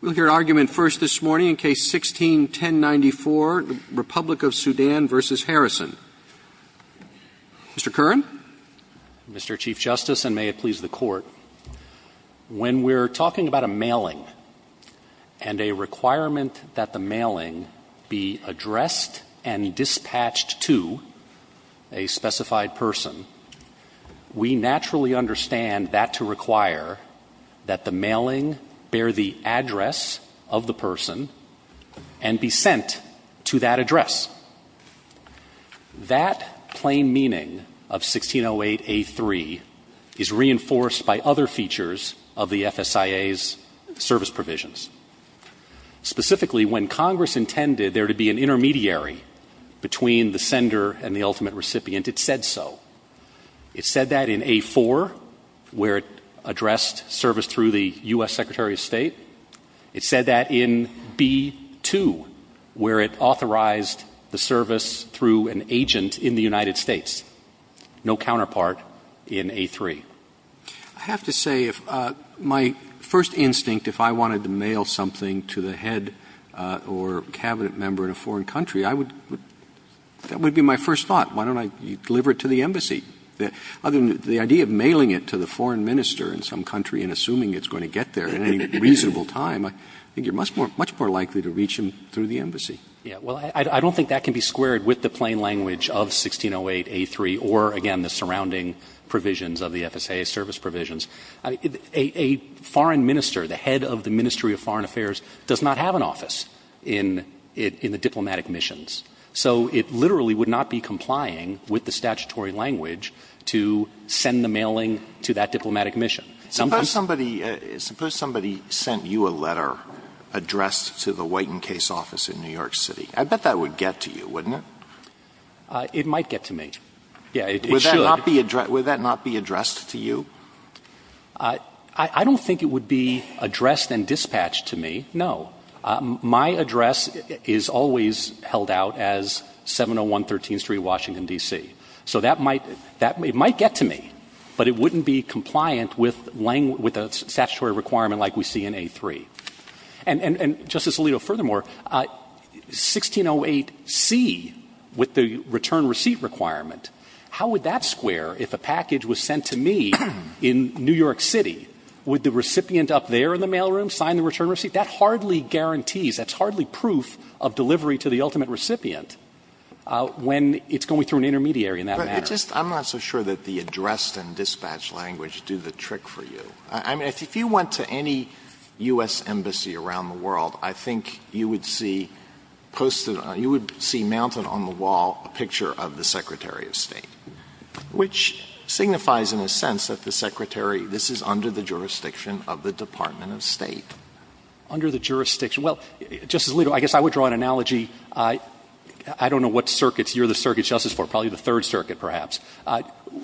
We'll hear argument first this morning in Case 16-1094, Republic of Sudan v. Harrison. Mr. Curran? Mr. Chief Justice, and may it please the Court, when we're talking about a mailing and a requirement that the mailing be addressed and dispatched to a specified person, we naturally understand that to require that the mailing bear the address of the person and be sent to that address. That plain meaning of 1608A3 is reinforced by other features of the FSIA's service provisions. Specifically, when Congress intended there to be an intermediary between the sender and the ultimate recipient, it said so. It said that in A4, where it addressed service through the U.S. Secretary of State. It said that in B2, where it authorized the service through an agent in the United States. No counterpart in A3. I have to say, if my first instinct, if I wanted to mail something to the head or cabinet member in a foreign country, that would be my first thought. Why don't I deliver it to the embassy? Other than the idea of mailing it to the foreign minister in some country and assuming it's going to get there in a reasonable time, I think you're much more likely to reach him through the embassy. Well, I don't think that can be squared with the plain language of 1608A3 or, again, the surrounding provisions of the FSIA's service provisions. A foreign minister, the head of the Ministry of Foreign Affairs, does not have an office in the diplomatic missions. So it literally would not be complying with the statutory language to send the mailing to that diplomatic mission. Suppose somebody sent you a letter addressed to the White and Case office in New York City. I bet that would get to you, wouldn't it? It might get to me. Yeah, it should. Would that not be addressed to you? I don't think it would be addressed and dispatched to me, no. My address is always held out as 701 13th Street, Washington, D.C. So that might get to me, but it wouldn't be compliant with a statutory requirement like we see in A3. And, Justice Alito, furthermore, 1608C with the return receipt requirement, how would that square if a package was sent to me in New York City? Would the recipient up there in the mailroom sign the return receipt? That hardly guarantees, that's hardly proof of delivery to the ultimate recipient when it's going through an intermediary in that manner. But it just – I'm not so sure that the addressed and dispatched language do the trick for you. I mean, if you went to any U.S. embassy around the world, I think you would see posted – you would see mounted on the wall a picture of the Secretary of State, which signifies, in a sense, that the Secretary – this is under the jurisdiction of the Department of State. Under the jurisdiction – well, Justice Alito, I guess I would draw an analogy. I don't know what circuits you're the circuit justice for, probably the Third Circuit, perhaps.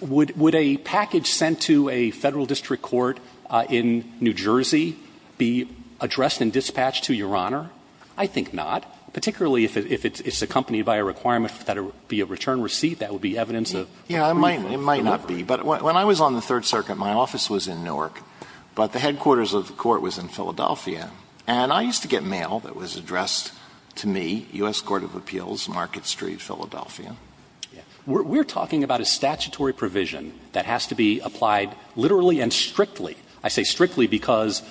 Would a package sent to a Federal District Court in New Jersey be addressed and dispatched to Your Honor? I think not. Particularly if it's accompanied by a requirement that it be a return receipt, that would be evidence of – Yeah, it might not be. But when I was on the Third Circuit, my office was in Newark, but the headquarters of the court was in Philadelphia. And I used to get mail that was addressed to me, U.S. Court of Appeals, Market Street, Philadelphia. Yeah. We're talking about a statutory provision that has to be applied literally and strictly. I say strictly because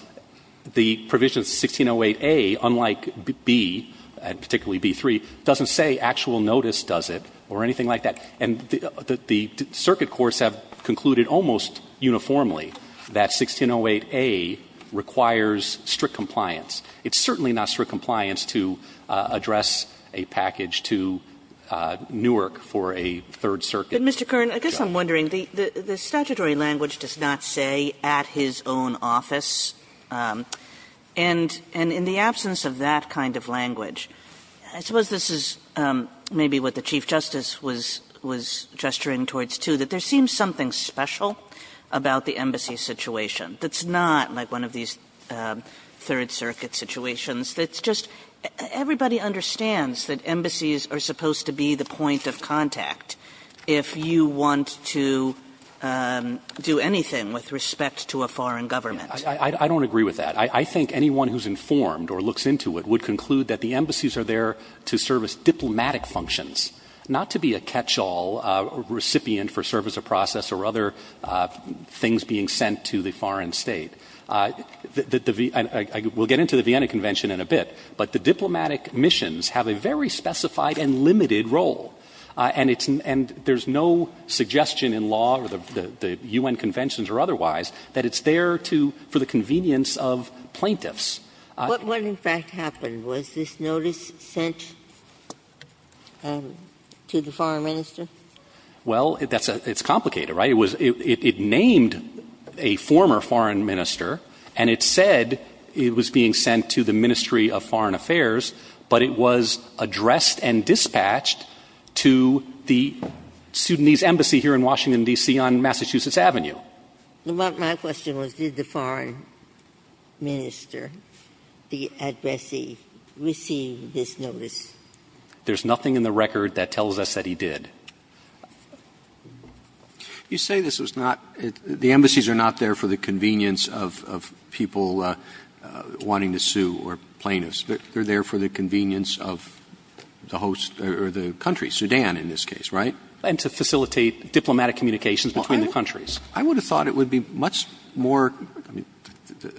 the provision of 1608A, unlike B, and particularly B-3, doesn't say actual notice does it or anything like that. And the circuit courts have concluded almost uniformly that 1608A requires strict compliance. It's certainly not strict compliance to address a package to Newark for a Third Circuit. But, Mr. Kern, I guess I'm wondering, the statutory language does not say at his own office. And in the absence of that kind of language, I suppose this is maybe what the Chief Justice was gesturing towards, too, that there seems something special about the embassy situation that's not like one of these Third Circuit situations. It's just everybody understands that embassies are supposed to be the point of contact if you want to do anything with respect to a foreign government. I don't agree with that. I think anyone who's informed or looks into it would conclude that the embassies are there to serve as diplomatic functions, not to be a catch-all recipient for service or process or other things being sent to the foreign State. We'll get into the Vienna Convention in a bit, but the diplomatic missions have a very specified and limited role. And it's — and there's no suggestion in law or the U.N. Conventions or otherwise that it's there to — for the convenience of plaintiffs. Ginsburg. What would, in fact, happen? Was this notice sent to the foreign minister? Well, that's a — it's complicated, right? It was — it named a former foreign minister, and it said it was being sent to the Ministry of Foreign Affairs, but it was addressed and dispatched to the Sudanese embassy here in Washington, D.C., on Massachusetts Avenue. My question was, did the foreign minister, the addressee, receive this notice? There's nothing in the record that tells us that he did. You say this was not — the embassies are not there for the convenience of — of people wanting to sue or plaintiffs. They're there for the convenience of the host — or the country, Sudan in this case, right? And to facilitate diplomatic communications between the countries. I would have thought it would be much more — I mean,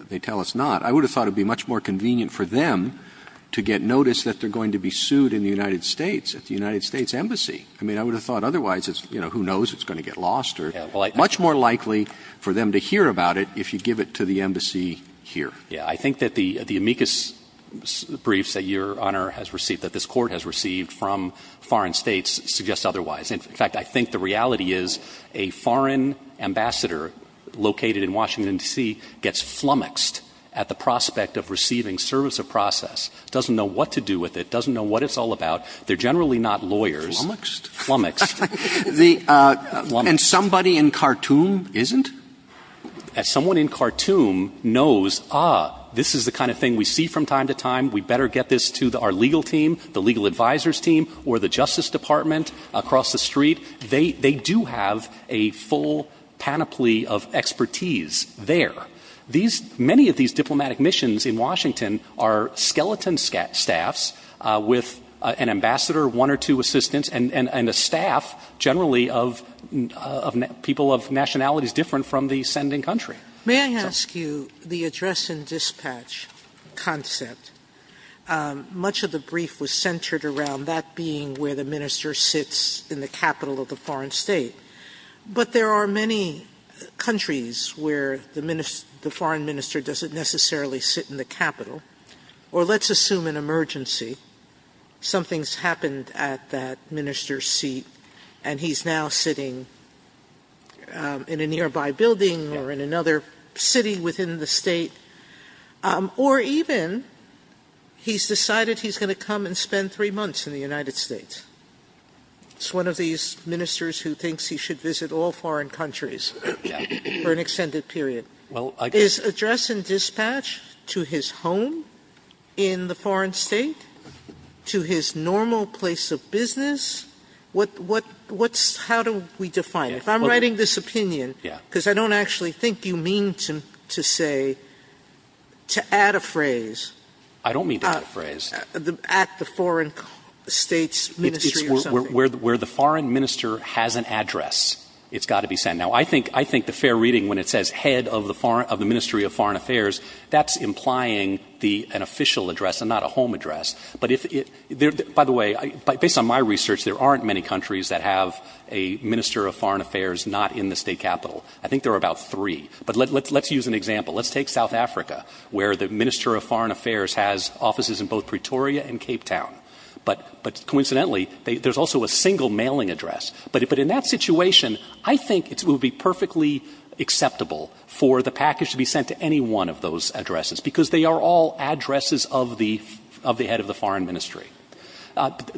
they tell us not. I would have thought it would be much more convenient for them to get notice that they're going to be sued in the United States, at the United States embassy. I mean, I would have thought otherwise it's — you know, who knows, it's going to get lost, or much more likely for them to hear about it if you give it to the embassy here. Yeah. I think that the amicus briefs that Your Honor has received, that this Court has received from foreign states, suggest otherwise. In fact, I think the reality is a foreign ambassador located in Washington, D.C., gets flummoxed at the prospect of receiving service of process, doesn't know what to do with it, doesn't know what it's all about. They're generally not lawyers. Flummoxed? Flummoxed. The — and somebody in Khartoum isn't? As someone in Khartoum knows, ah, this is the kind of thing we see from time to time, we better get this to our legal team, the legal advisors team, or the Justice Department across the street, they do have a full panoply of expertise there. These — many of these diplomatic missions in Washington are skeleton staffs with an ambassador, one or two assistants, and a staff generally of people of nationalities different from the sending country. May I ask you, the address and dispatch concept, much of the brief was centered around that being where the minister sits in the capital of the foreign state. But there are many countries where the foreign minister doesn't necessarily sit in the capital. Or let's assume an emergency. Something's happened at that minister's seat, and he's now sitting in a nearby building or in another city within the state. Or even he's decided he's going to come and spend three months in the United States. It's one of these ministers who thinks he should visit all foreign countries for an extended period. Is address and dispatch to his home in the foreign state, to his normal place of business? What's — how do we define it? If I'm writing this opinion, because I don't actually think you mean to say, to add a phrase. I don't mean to add a phrase. At the foreign state's ministry or something. Where the foreign minister has an address, it's got to be sent. Now, I think the fair reading, when it says head of the foreign — of the ministry of foreign affairs, that's implying an official address and not a home address. But if — by the way, based on my research, there aren't many countries that have a minister of foreign affairs not in the state capital. I think there are about three. But let's use an example. Let's take South Africa, where the minister of foreign affairs has offices in both Pretoria and Cape Town. But coincidentally, there's also a single mailing address. But in that situation, I think it would be perfectly acceptable for the package to be sent to any one of those addresses, because they are all addresses of the — of the head of the foreign ministry.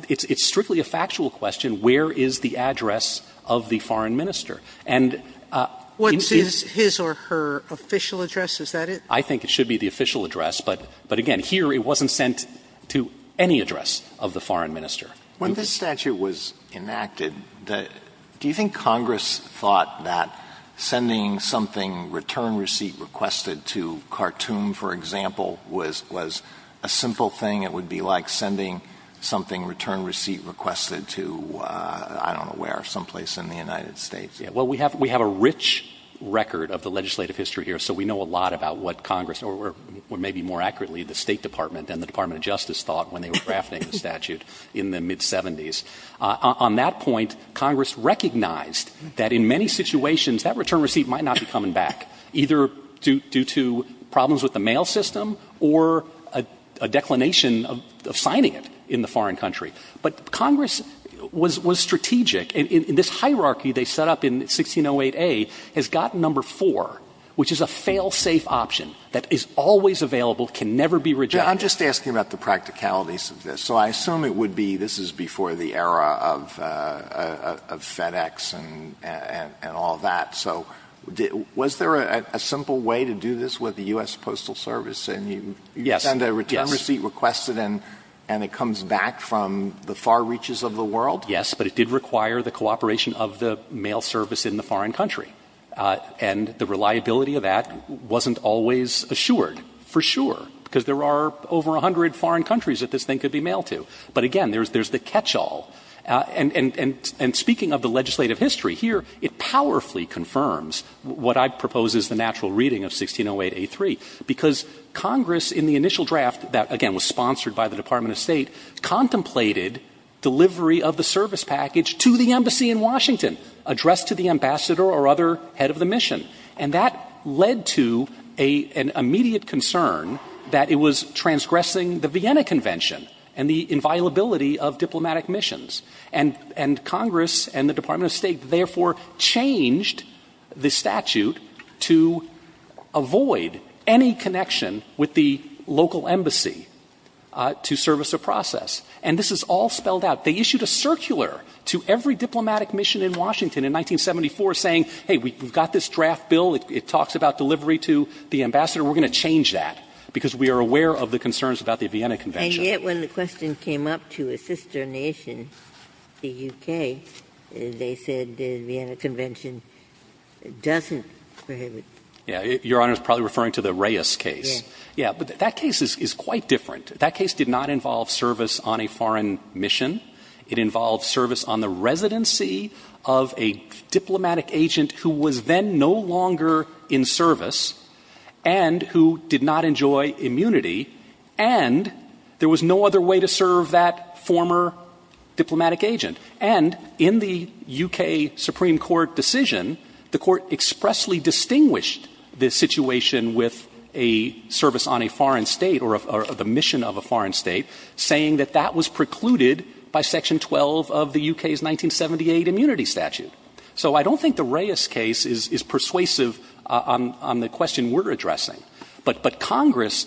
It's strictly a factual question, where is the address of the foreign minister? And — What is his or her official address? Is that it? I think it should be the official address. But again, here it wasn't sent to any address of the foreign minister. When this statute was enacted, do you think Congress thought that sending something, return receipt requested to Khartoum, for example, was — was a simple thing? It would be like sending something, return receipt requested to — I don't know where — someplace in the United States. Yeah. Well, we have — we have a rich record of the legislative history here, so we know a lot about what Congress — or maybe more accurately, the State Department and the Department of Justice thought when they were drafting the statute in the mid-'70s. On that point, Congress recognized that in many situations, that return receipt might not be coming back, either due to problems with the mail system or a declination of signing it in the foreign country. But Congress was — was strategic. And this hierarchy they set up in 1608A has gotten number four, which is a fail-safe option that is always available, can never be rejected. I'm just asking about the practicalities of this. So I assume it would be — this is before the era of FedEx and all that. So was there a simple way to do this with the U.S. Postal Service? Yes. You send a return receipt requested and it comes back from the far reaches of the world? Yes, but it did require the cooperation of the mail service in the foreign country. And the reliability of that wasn't always assured, for sure, because there are over a hundred foreign countries that this thing could be mailed to. But again, there's the catchall. And speaking of the legislative history here, it powerfully confirms what I propose is the natural reading of 1608A.3, because Congress in the initial draft that, again, was sponsored by the Department of State, contemplated delivery of the service package to the embassy in Washington, addressed to the ambassador or other head of the mission. And that led to an immediate concern that it was transgressing the Vienna Convention and the inviolability of diplomatic missions. And Congress and the Department of State therefore changed the statute to avoid any connection with the local embassy to service a process. And this is all spelled out. They issued a circular to every diplomatic mission in Washington in 1974 saying, hey, we've got this draft bill. It talks about delivery to the ambassador. We're going to change that, because we are aware of the concerns about the Vienna Convention. And yet when the question came up to a sister nation, the U.K., they said the Vienna Convention doesn't prohibit. Yes. Your Honor is probably referring to the Reyes case. Yes. But that case is quite different. That case did not involve service on a foreign mission. It involved service on the residency of a diplomatic agent who was then no longer in service and who did not enjoy immunity. And there was no other way to serve that former diplomatic agent. And in the U.K. Supreme Court decision, the Court expressly distinguished the situation with a service on a foreign state or the mission of a foreign state saying that that was precluded by Section 12 of the U.K.'s 1978 immunity statute. So I don't think the Reyes case is persuasive on the question we're addressing. But Congress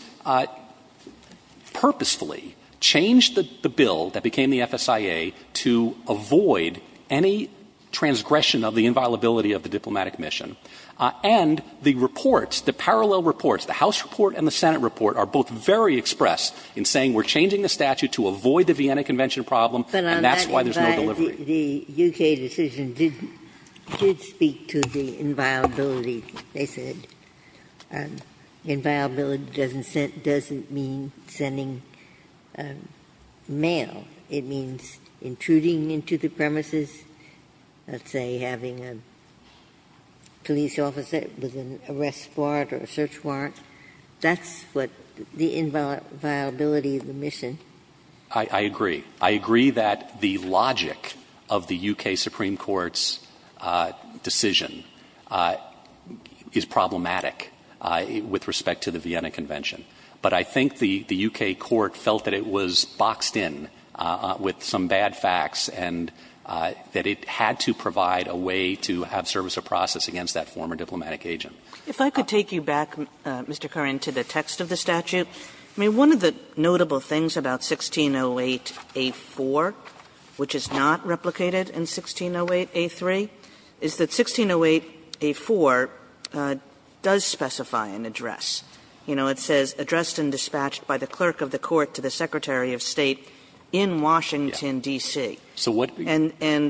purposefully changed the bill that became the FSIA to avoid any transgression of the inviolability of the diplomatic mission. And the reports, the parallel reports, the House report and the Senate report are both very express in saying we're changing the statute to avoid the Vienna Convention problem, and that's why there's no delivery. But on that, the U.K. decision did speak to the inviolability, they said. Inviolability doesn't mean sending mail. It means intruding into the premises, let's say, having a police officer with an arrest warrant or a search warrant. That's what the inviolability of the mission. I agree. I agree that the logic of the U.K. Supreme Court's decision is problematic with respect to the Vienna Convention. But I think the U.K. Court felt that it was boxed in with some bad facts and that it had to provide a way to have service of process against that former diplomatic agent. Kagan. If I could take you back, Mr. Curran, to the text of the statute, I mean, one of the notable things about 1608a-4, which is not replicated in 1608a-3, is that 1608a-4 does specify an address. You know, it says, addressed and dispatched by the clerk of the court to the Secretary of State in Washington, D.C. And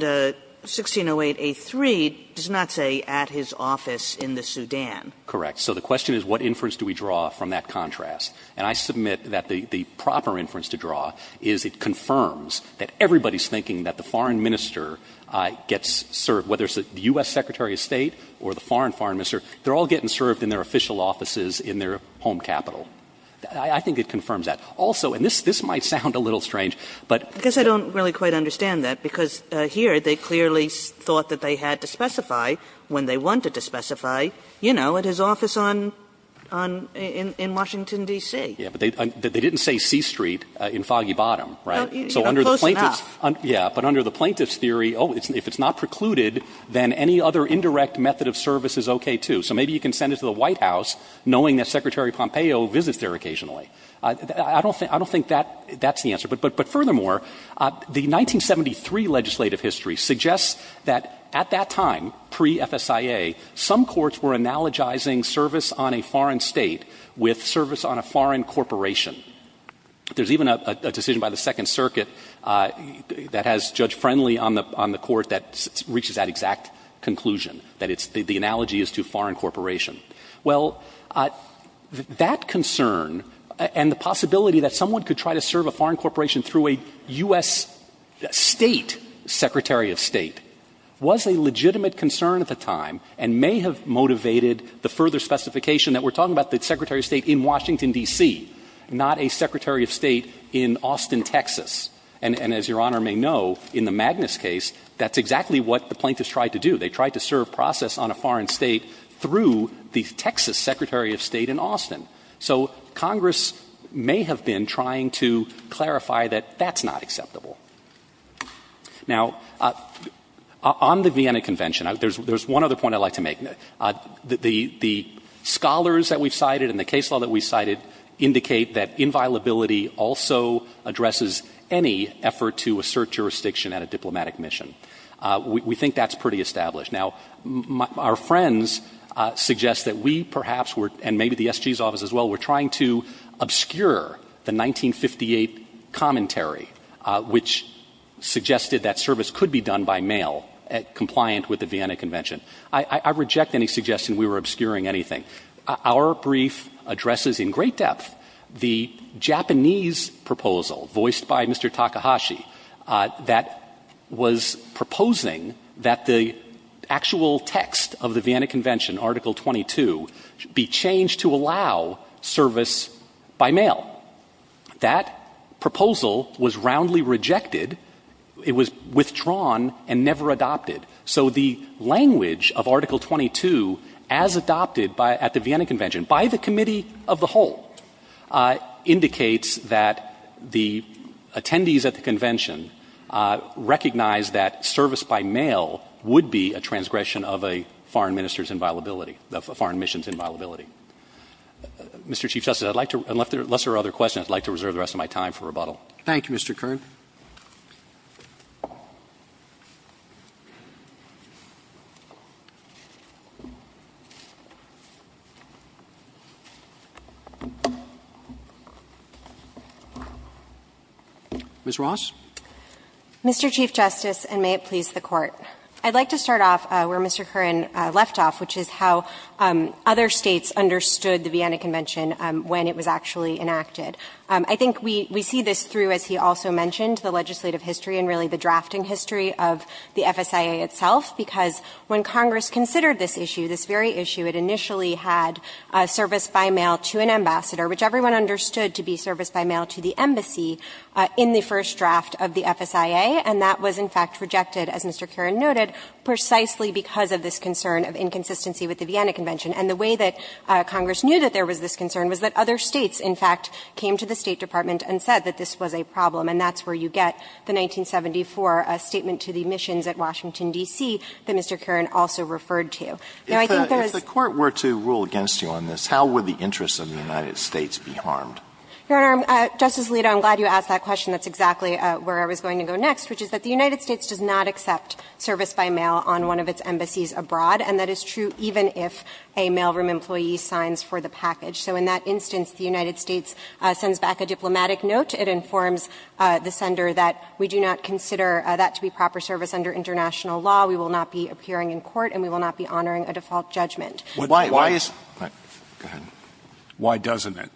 1608a-3 does not say, at his office in the Sudan. Correct. So the question is, what inference do we draw from that contrast? And I submit that the proper inference to draw is it confirms that everybody's thinking that the foreign minister gets served, whether it's the U.S. Secretary of State or the foreign foreign minister, they're all getting served in their official offices in their home capital. I think it confirms that. Also, and this might sound a little strange, but the question D.C.? I guess I don't really quite understand that, because here they clearly thought that they had to specify when they wanted to specify, you know, at his office on — in Washington, D.C. Yeah, but they didn't say C Street in Foggy Bottom, right? Well, close enough. Yeah, but under the plaintiff's theory, oh, if it's not precluded, then any other indirect method of service is okay, too. So maybe you can send it to the White House knowing that Secretary Pompeo visits there occasionally. I don't think that's the answer. But furthermore, the 1973 legislative history suggests that at that time, pre-FSIA, some courts were analogizing service on a foreign state with service on a foreign corporation. There's even a decision by the Second Circuit, you know, that has Judge Friendly on the court that reaches that exact conclusion, that it's — the analogy is to a foreign corporation. Well, that concern and the possibility that someone could try to serve a foreign corporation through a U.S. State secretary of State was a legitimate concern at the time and may have motivated the further specification that we're talking about the Secretary of State in Washington, D.C., not a Secretary of State in Austin, Texas. And as Your Honor, I think that's fair to say, as Your Honor may know, in the Magnus case, that's exactly what the plaintiffs tried to do. They tried to serve process on a foreign state through the Texas Secretary of State in Austin. So Congress may have been trying to clarify that that's not acceptable. Now, on the Vienna Convention, there's one other point I'd like to make. The scholars that we've cited and the case law that we've cited indicate that inviolability also addresses any effort to assert the right to serve jurisdiction at a diplomatic mission. We think that's pretty established. Now, our friends suggest that we perhaps were — and maybe the S.G.'s office as well — were trying to obscure the 1958 commentary which suggested that service could be done by mail compliant with the Vienna Convention. I reject any suggestion we were obscuring anything. Our brief addresses in great depth the Japanese proposal voiced by Mr. Takahashi that was proposing that the actual text of the Vienna Convention, Article 22, be changed to allow service by mail. That proposal was roundly rejected. It was withdrawn and never adopted. So the language of Article 22 as adopted by — at the Vienna Convention, by the committee of the whole, indicates that the — the attendees at the convention recognized that service by mail would be a transgression of a foreign minister's inviolability — of a foreign mission's inviolability. Mr. Chief Justice, I'd like to — unless there are other questions, I'd like to reserve the rest of my time for rebuttal. Thank you, Mr. Kern. Ms. Ross. Mr. Chief Justice, and may it please the Court. I'd like to start off where Mr. Kern left off, which is how other States understood the Vienna Convention when it was actually enacted. I think we — we see this through, as he also mentioned, the legislative history and really the drafting history of the FSIA itself, because when Congress considered this issue, this very issue, it initially had service by mail to an ambassador, which everyone understood to be service by mail to the embassy in the first draft of the FSIA, and that was, in fact, rejected, as Mr. Kern noted, precisely because of this concern of inconsistency with the Vienna Convention. And the way that Congress knew that there was this concern was that other States, in fact, came to the State Department and said that this was a problem, and that's where you get the 1974 statement to the missions at Washington, D.C. that Mr. Kern also referred to. Now, I think there is — Alito, if the Court were to rule against you on this, how would the interests of the United States be harmed? Your Honor, Justice Alito, I'm glad you asked that question. That's exactly where I was going to go next, which is that the United States does not accept service by mail on one of its embassies abroad, and that is true even if a mailroom employee signs for the package. So in that instance, the United States sends back a diplomatic note. It informs the sender that we do not consider that to be proper service under international law. We will not be appearing in court, and we will not be honoring a default judgment. Why is — go ahead. Why doesn't it?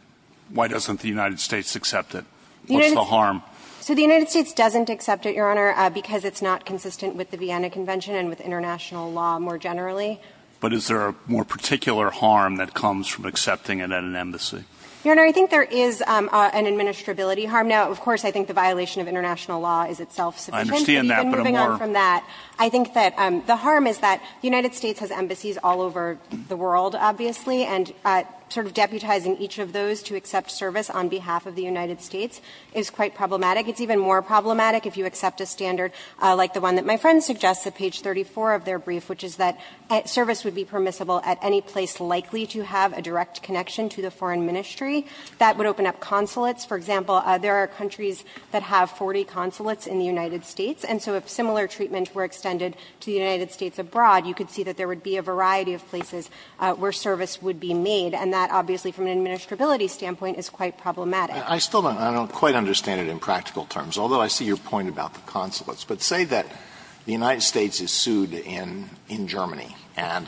Why doesn't the United States accept it? What's the harm? So the United States doesn't accept it, Your Honor, because it's not consistent with the Vienna Convention and with international law more generally. But is there a more particular harm that comes from accepting it at an embassy? Your Honor, I think there is an administrability harm. Now, of course, I think the violation of international law is itself sufficient, but even moving on from that, I think that the harm is that the United States has embassies all over the world, obviously, and sort of deputizing each of those to accept service on behalf of the United States is quite problematic. It's even more problematic if you accept a standard like the one that my friend suggests at page 34 of their brief, which is that service would be permissible at any place likely to have a direct connection to the foreign ministry. That would open up consulates. For example, there are countries that have 40 consulates in the United States, and so if similar treatment were extended to the United States abroad, you could see that there would be a variety of places where service would be made, and that obviously from an administrability standpoint is quite problematic. Alito, I still don't quite understand it in practical terms, although I see your point about the consulates. But say that the United States is sued in Germany, and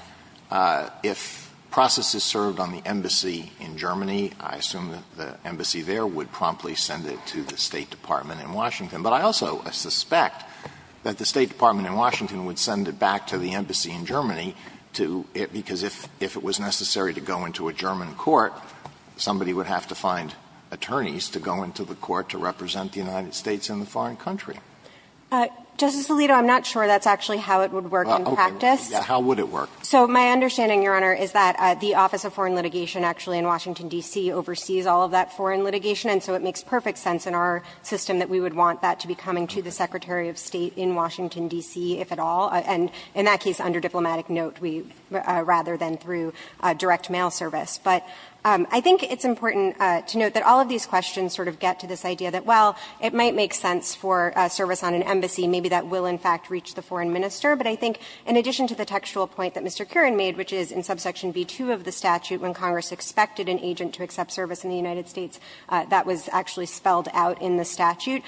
if process is served on the embassy in Germany, I assume that the embassy there would promptly send it to the State Department in Washington. But I also suspect that the State Department in Washington would send it back to the embassy in Germany to – because if it was necessary to go into a German court, somebody would have to find attorneys to go into the court to represent the United States in the foreign country. Justice Alito, I'm not sure that's actually how it would work in practice. How would it work? So my understanding, Your Honor, is that the Office of Foreign Litigation actually in Washington, D.C. oversees all of that foreign litigation, and so it makes perfect sense in our system that we would want that to be coming to the Secretary of State in Washington, D.C., if at all. And in that case, under diplomatic note, rather than through direct mail service. But I think it's important to note that all of these questions sort of get to this idea that, well, it might make sense for service on an embassy. Maybe that will, in fact, reach the foreign minister. But I think in addition to the textual point that Mr. Curran made, which is in subsection B2 of the statute, when Congress expected an agent to accept service in the United States, that was actually spelled out in the statute.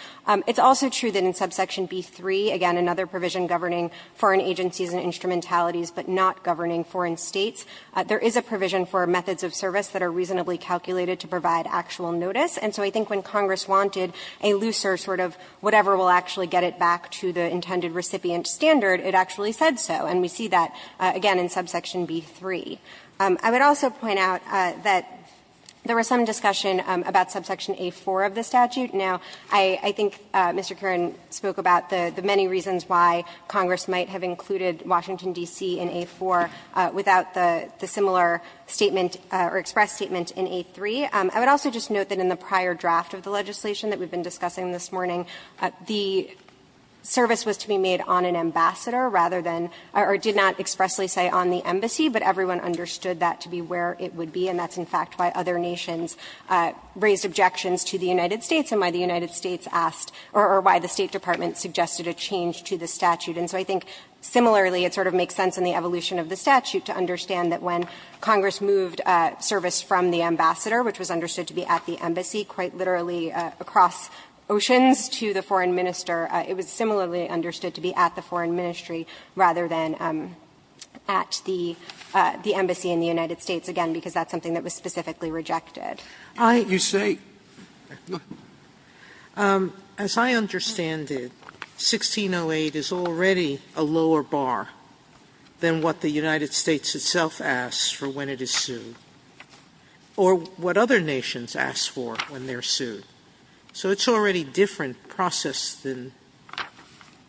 It's also true that in subsection B3, again, another provision governing foreign agencies and instrumentalities but not governing foreign states, there is a provision for methods of service that are reasonably calculated to provide actual notice. And so I think when Congress wanted a looser sort of whatever will actually get it back to the intended recipient standard, it actually said so. And we see that, again, in subsection B3. I would also point out that there was some discussion about subsection A4 of the statute. Now, I think Mr. Curran spoke about the many reasons why Congress might have included Washington, D.C. in A4 without the similar statement or express statement in A3. I would also just note that in the prior draft of the legislation that we've been discussing this morning, the service was to be made on an ambassador rather than or did not expressly say on the embassy, but everyone understood that to be where it would be, and that's, in fact, why other nations raised objections to the United States and why the United States asked or why the State Department suggested a change to the statute. And so I think similarly, it sort of makes sense in the evolution of the statute to understand that when Congress moved service from the ambassador, which was understood to be at the embassy, quite literally across oceans to the foreign minister, it was more than at the embassy in the United States, again, because that's something that was specifically rejected. Sotomayor, you say go ahead. Sotomayor, as I understand it, 1608 is already a lower bar than what the United States itself asks for when it is sued or what other nations ask for when they're sued. So it's already a different process than,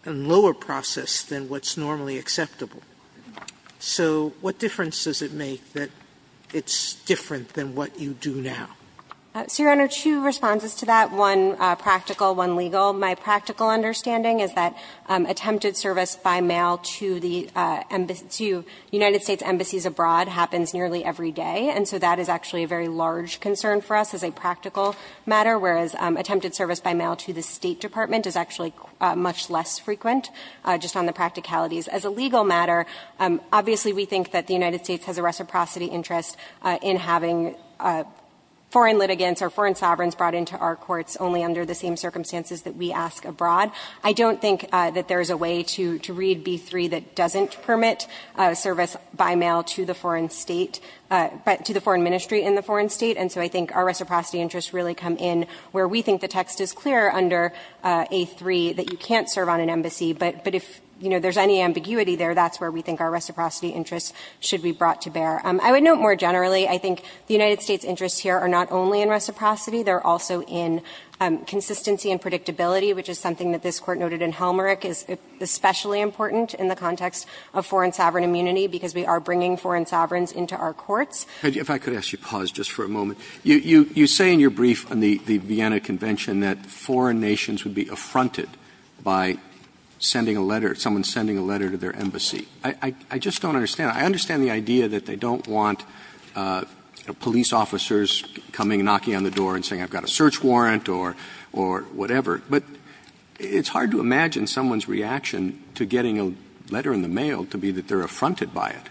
a lower process than what's normally acceptable. So what difference does it make that it's different than what you do now? So, Your Honor, two responses to that, one practical, one legal. My practical understanding is that attempted service by mail to the United States embassies abroad happens nearly every day, and so that is actually a very large concern for us as a practical matter, whereas attempted service by mail to the State Department is actually much less frequent, just on the practicalities. As a legal matter, obviously we think that the United States has a reciprocity interest in having foreign litigants or foreign sovereigns brought into our courts only under the same circumstances that we ask abroad. I don't think that there is a way to read B-3 that doesn't permit service by mail to the foreign state, to the foreign ministry in the foreign state, and so I think our reciprocity interests really come in where we think the text is clear under A-3 that you can't serve on an embassy. But if, you know, there's any ambiguity there, that's where we think our reciprocity interests should be brought to bear. I would note more generally I think the United States' interests here are not only in reciprocity, they're also in consistency and predictability, which is something that this Court noted in Helmerich is especially important in the context of foreign sovereign immunity, because we are bringing foreign sovereigns into our courts. Roberts. If I could ask you to pause just for a moment. You say in your brief on the Vienna Convention that foreign nations would be affronted by sending a letter, someone sending a letter to their embassy. I just don't understand. I understand the idea that they don't want police officers coming and knocking on the door and saying I've got a search warrant or whatever, but it's hard to imagine someone's reaction to getting a letter in the mail to be that they're affronted by it.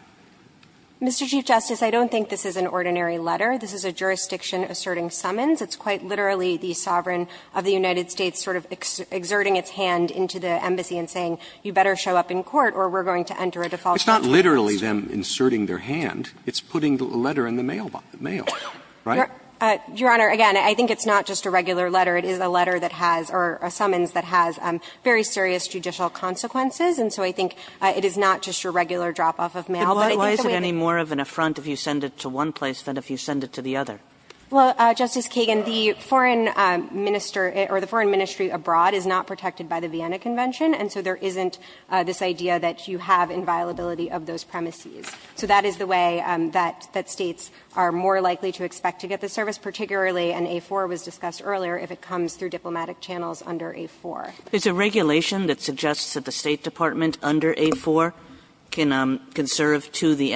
Mr. Chief Justice, I don't think this is an ordinary letter. This is a jurisdiction asserting summons. It's quite literally the sovereign of the United States sort of exerting its hand into the embassy and saying you better show up in court or we're going to enter a default sentence. It's not literally them inserting their hand. It's putting the letter in the mail box, the mail, right? Your Honor, again, I think it's not just a regular letter. It is a letter that has or a summons that has very serious judicial consequences. And so I think it is not just your regular drop-off of mail. But I think that we can do that. But why is it any more of an affront if you send it to one place than if you send it to the other? Well, Justice Kagan, the foreign minister or the foreign ministry abroad is not protected by the Vienna Convention, and so there isn't this idea that you have inviolability of those premises. So that is the way that States are more likely to expect to get the service, particularly an A-4 was discussed earlier, if it comes through diplomatic channels under A-4. It's a regulation that suggests that the State Department under A-4 can serve to the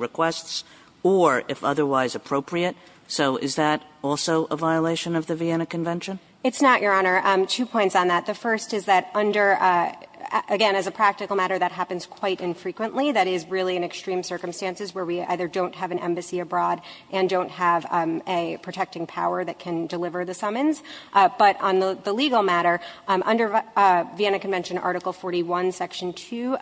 requests or, if otherwise appropriate. So is that also a violation of the Vienna Convention? It's not, Your Honor. Two points on that. The first is that under – again, as a practical matter, that happens quite infrequently. That is really in extreme circumstances where we either don't have an embassy abroad and don't have a protecting power that can deliver the summons. But on the legal matter, under Vienna Convention Article 41, Section 2,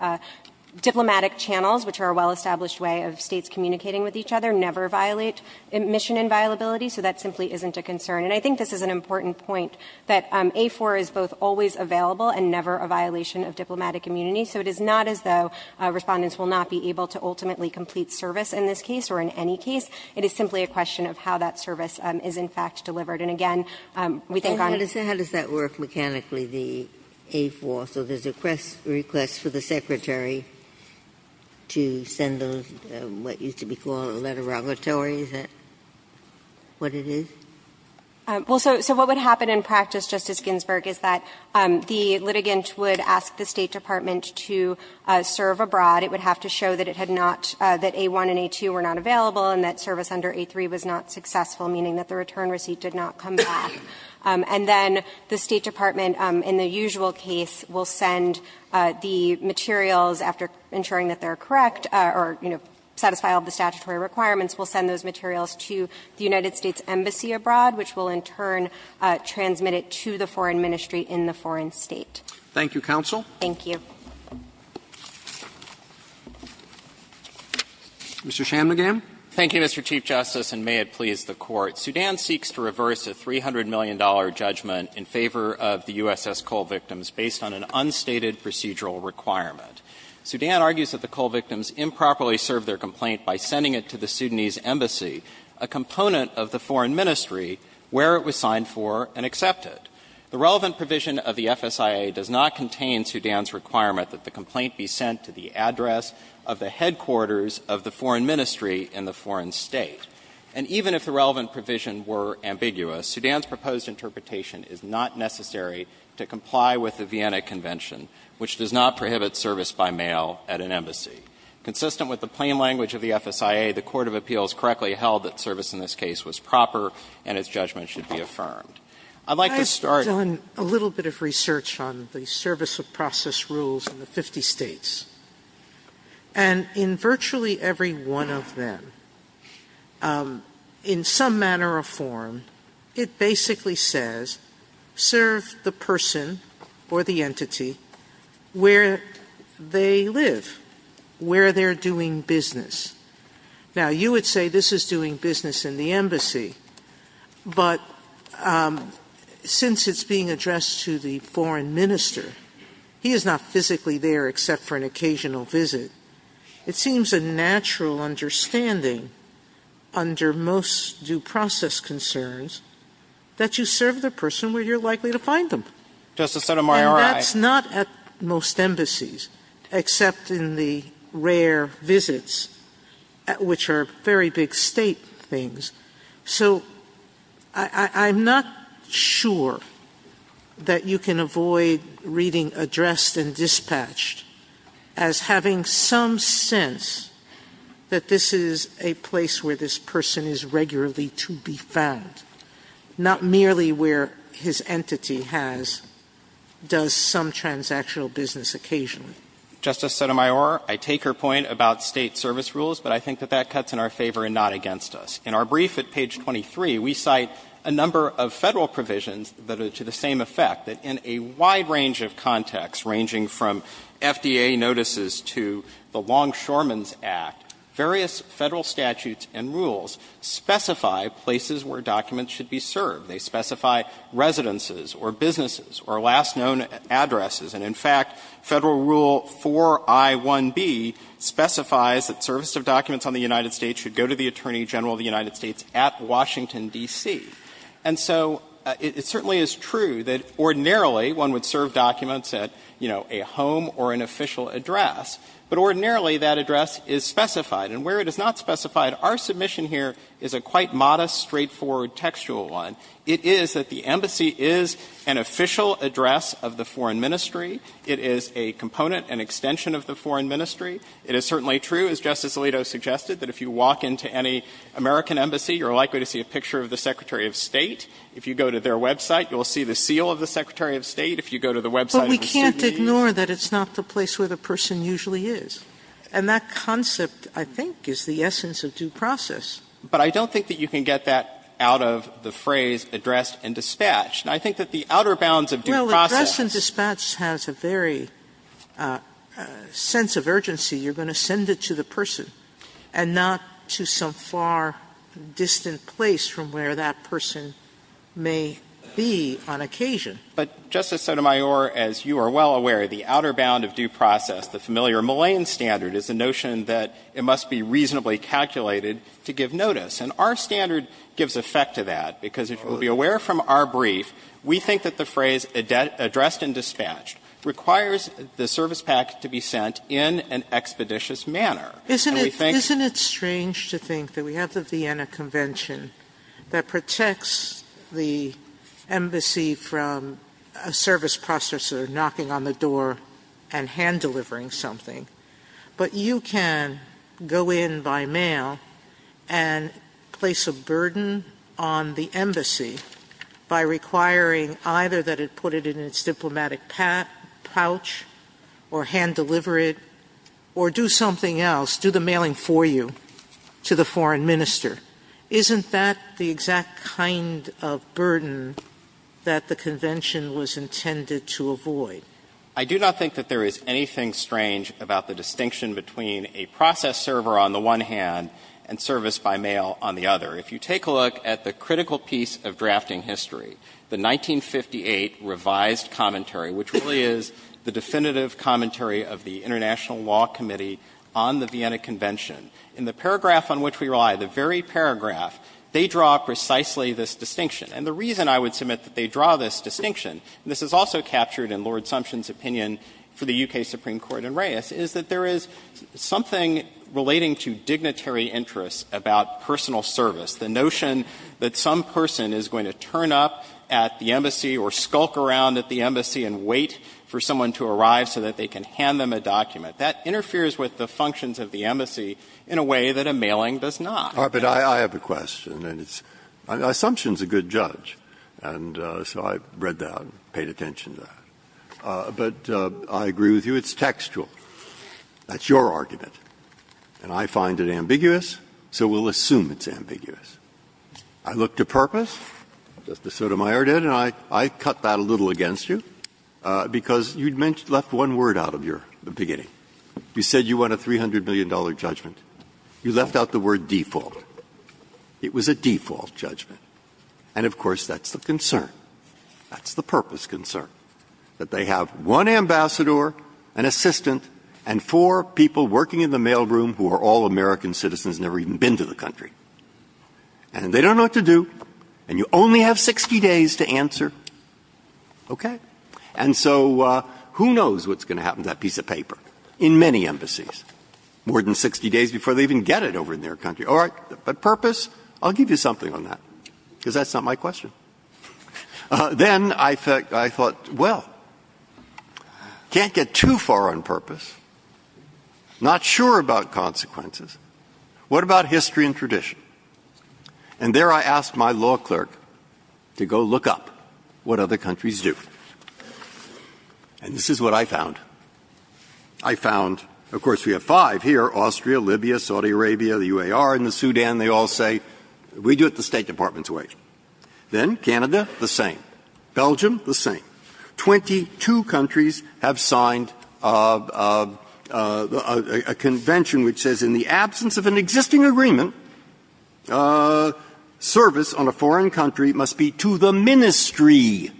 diplomatic channels, which are a well-established way of States communicating with each other, never violate admission inviolability. So that simply isn't a concern. And I think this is an important point, that A-4 is both always available and never a violation of diplomatic immunity. So it is not as though Respondents will not be able to ultimately complete service in this case or in any case. It is simply a question of how that service is, in fact, delivered. And again, we think on – How does that work mechanically, the A-4? Also, there's a request for the Secretary to send those, what used to be called a letterogatory. Is that what it is? Well, so what would happen in practice, Justice Ginsburg, is that the litigant would ask the State Department to serve abroad. It would have to show that it had not – that A-1 and A-2 were not available and that service under A-3 was not successful, meaning that the return receipt did not come back. And then the State Department, in the usual case, will send the materials after ensuring that they are correct or, you know, satisfy all the statutory requirements, will send those materials to the United States Embassy abroad, which will in turn transmit it to the foreign ministry in the foreign state. Thank you, counsel. Thank you. Mr. Shanmugam. Thank you, Mr. Chief Justice, and may it please the Court. Sudan seeks to reverse a $300 million judgment in favor of the USS Cole victims based on an unstated procedural requirement. Sudan argues that the Cole victims improperly served their complaint by sending it to the Sudanese Embassy, a component of the foreign ministry, where it was signed for and accepted. The relevant provision of the FSIA does not contain Sudan's requirement that the complaint be sent to the address of the headquarters of the foreign ministry in the foreign state. And even if the relevant provision were ambiguous, Sudan's proposed interpretation is not necessary to comply with the Vienna Convention, which does not prohibit service by mail at an embassy. Consistent with the plain language of the FSIA, the court of appeals correctly held that service in this case was proper and its judgment should be affirmed. I'd like to start. I've done a little bit of research on the service of process rules in the 50 States. And in virtually every one of them, in some manner or form, it basically says serve the person or the entity where they live, where they're doing business. Now, you would say this is doing business in the embassy, but since it's being addressed to the foreign minister, he is not physically there except for an occasional visit. It seems a natural understanding under most due process concerns that you serve the person where you're likely to find them. And that's not at most embassies except in the rare visits, which are very big state things. So I'm not sure that you can avoid reading addressed and dispatched. As having some sense that this is a place where this person is regularly to be found, not merely where his entity has, does some transactional business occasionally. Justice Sotomayor, I take your point about State service rules, but I think that that cuts in our favor and not against us. In our brief at page 23, we cite a number of Federal provisions that are to the same effect, that in a wide range of contexts, ranging from FDA notices to the Long Shoreman's Act, various Federal statutes and rules specify places where documents should be served. They specify residences or businesses or last known addresses. And in fact, Federal Rule 4I1B specifies that service of documents on the United States should go to the Attorney General of the United States at Washington, D.C. And so it certainly is true that ordinarily one would serve documents at, you know, a home or an official address. But ordinarily, that address is specified. And where it is not specified, our submission here is a quite modest, straightforward textual one. It is that the embassy is an official address of the Foreign Ministry. It is a component, an extension of the Foreign Ministry. It is certainly true, as Justice Alito suggested, that if you walk into any American embassy, you are likely to see a picture of the Secretary of State. If you go to their website, you will see the seal of the Secretary of State. If you go to the website of the State of the Union. Sotomayor, but we can't ignore that it's not the place where the person usually is. And that concept, I think, is the essence of due process. But I don't think that you can get that out of the phrase addressed and dispatched. I think that the outer bounds of due process. Well, addressed and dispatched has a very sense of urgency. You're going to send it to the person, and not to some far distant place from where that person may be on occasion. But, Justice Sotomayor, as you are well aware, the outer bound of due process, the familiar Millane standard, is the notion that it must be reasonably calculated to give notice. And our standard gives effect to that, because if you will be aware from our brief, we think that the phrase addressed and dispatched requires the service pack to be sent in an expeditious manner. Sotomayor, isn't it strange to think that we have the Vienna Convention that protects the embassy from a service processor knocking on the door and hand-delivering something, but you can go in by mail and place a burden on the embassy by requiring either that it put it in its diplomatic pouch or hand-deliver it to the embassy or do something else, do the mailing for you to the foreign minister? Isn't that the exact kind of burden that the Convention was intended to avoid? I do not think that there is anything strange about the distinction between a process server on the one hand and service by mail on the other. If you take a look at the critical piece of drafting history, the 1958 revised commentary, which really is the definitive commentary of the International Law Committee on the Vienna Convention, in the paragraph on which we rely, the very paragraph, they draw precisely this distinction. And the reason I would submit that they draw this distinction, and this is also captured in Lord Sumption's opinion for the U.K. Supreme Court in Reyes, is that there is something relating to dignitary interests about personal service, the notion that some person is going to turn up at the embassy or skulk around at the embassy and wait for someone to arrive so that they can hand them a document. That interferes with the functions of the embassy in a way that a mailing does not. Breyer. But I have a question, and it's – Sumption's a good judge, and so I read that and paid attention to that. But I agree with you, it's textual. That's your argument. And I find it ambiguous, so we'll assume it's ambiguous. I look to purpose, just as Sotomayor did, and I cut that a little against you, because you'd mentioned – left one word out of your beginning. You said you want a $300 million judgment. You left out the word default. It was a default judgment. And, of course, that's the concern. That's the purpose concern, that they have one ambassador, an assistant, and four people working in the mailroom who are all American citizens, never even been to the embassy, and they don't know what to do. And you only have 60 days to answer. Okay? And so who knows what's going to happen to that piece of paper in many embassies more than 60 days before they even get it over in their country. All right. But purpose, I'll give you something on that, because that's not my question. Then I thought, well, can't get too far on purpose. Not sure about consequences. What about history and tradition? And there I asked my law clerk to go look up what other countries do. And this is what I found. I found, of course, we have five here, Austria, Libya, Saudi Arabia, the U.A.R. and the Sudan. They all say, we do it the State Department's way. Then Canada, the same. Belgium, the same. Twenty-two countries have signed a convention which says in the absence of an existing agreement, service on a foreign country must be to the Ministry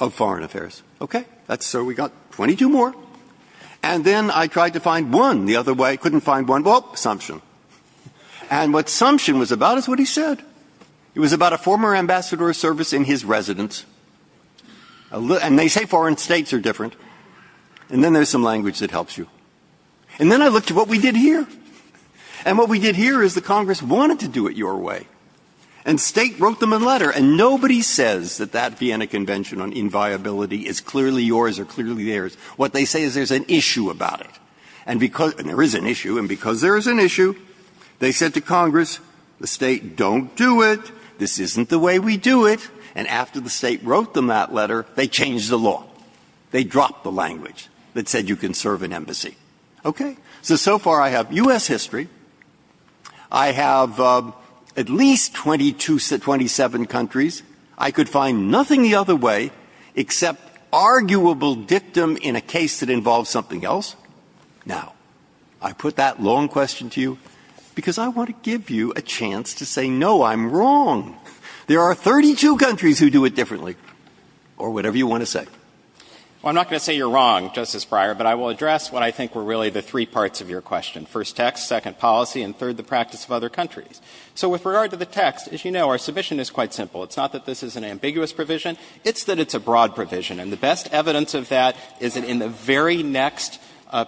of Foreign Affairs. Okay? So we got 22 more. And then I tried to find one the other way. Couldn't find one. Well, assumption. And what assumption was about is what he said. It was about a former ambassador of service in his residence. And they say foreign states are different. And then there's some language that helps you. And then I looked at what we did here. And what we did here is the Congress wanted to do it your way. And State wrote them a letter. And nobody says that that Vienna Convention on inviability is clearly yours or clearly theirs. What they say is there's an issue about it. And there is an issue. And because there is an issue, they said to Congress, the State, don't do it. This isn't the way we do it. And after the State wrote them that letter, they changed the law. They dropped the language that said you can serve in embassy. Okay? So, so far I have U.S. history. I have at least 22 to 27 countries. I could find nothing the other way except arguable dictum in a case that involves something else. Now, I put that long question to you because I want to give you a chance to say, no, I'm wrong. There are 32 countries who do it differently, or whatever you want to say. Well, I'm not going to say you're wrong, Justice Breyer. But I will address what I think were really the three parts of your question, first text, second policy, and third, the practice of other countries. So with regard to the text, as you know, our submission is quite simple. It's not that this is an ambiguous provision. It's that it's a broad provision. And the best evidence of that is that in the very next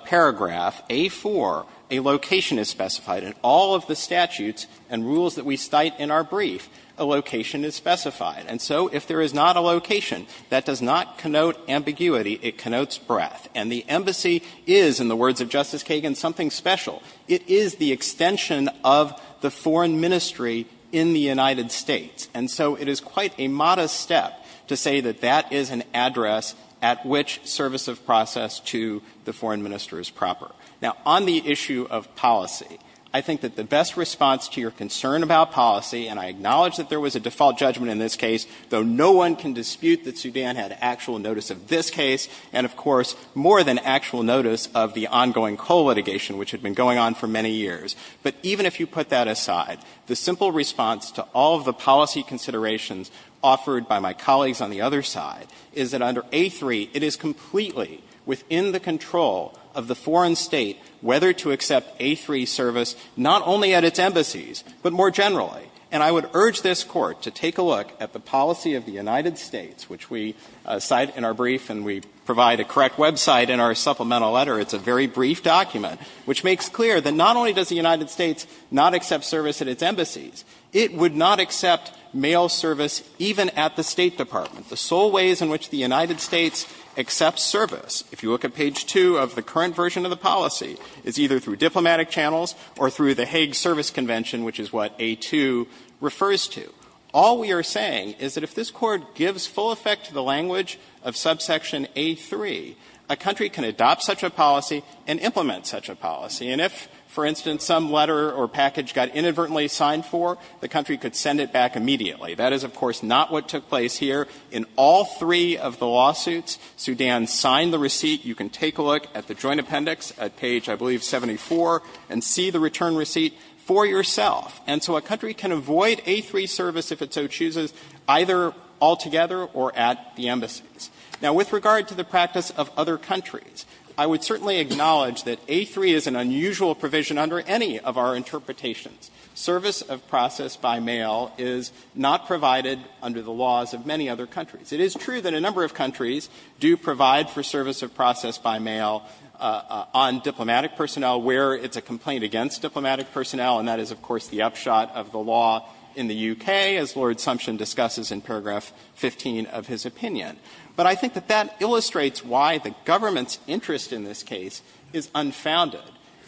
paragraph, A-4, a location is specified. In all of the statutes and rules that we cite in our brief, a location is specified. And so if there is not a location, that does not connote ambiguity. It connotes breadth. And the embassy is, in the words of Justice Kagan, something special. It is the extension of the foreign ministry in the United States. And so it is quite a modest step to say that that is an address at which service of process to the foreign minister is proper. Now, on the issue of policy, I think that the best response to your concern about policy, and I acknowledge that there was a default judgment in this case, though no one can dispute that Sudan had actual notice of this case and, of course, more than actual notice of the ongoing coal litigation which had been going on for many years. But even if you put that aside, the simple response to all of the policy considerations offered by my colleagues on the other side is that under A-3, it is completely within the control of the foreign State whether to accept A-3 service not only at its embassies, but more generally. And I would urge this Court to take a look at the policy of the United States, which we cite in our brief and we provide a correct website in our supplemental letter. It's a very brief document, which makes clear that not only does the United States not accept service at its embassies, it would not accept mail service even at the State Department. The sole ways in which the United States accepts service, if you look at page 2 of the current version of the policy, is either through diplomatic channels or through the Hague Service Convention, which is what A-2 refers to. All we are saying is that if this Court gives full effect to the language of subsection A-3, a country can adopt such a policy and implement such a policy. And if, for instance, some letter or package got inadvertently signed for, the country could send it back immediately. That is, of course, not what took place here. In all three of the lawsuits, Sudan signed the receipt. You can take a look at the Joint Appendix at page, I believe, 74, and see the return receipt for yourself. And so a country can avoid A-3 service if it so chooses, either altogether or at the embassies. Now, with regard to the practice of other countries, I would certainly acknowledge that A-3 is an unusual provision under any of our interpretations. Service of process by mail is not provided under the laws of many other countries. It is true that a number of countries do provide for service of process by mail on diplomatic personnel where it's a complaint against diplomatic personnel, and that is, of course, the upshot of the law in the U.K., as Lord Sumption discusses in paragraph 15 of his opinion. But I think that that illustrates why the government's interest in this case is unfounded.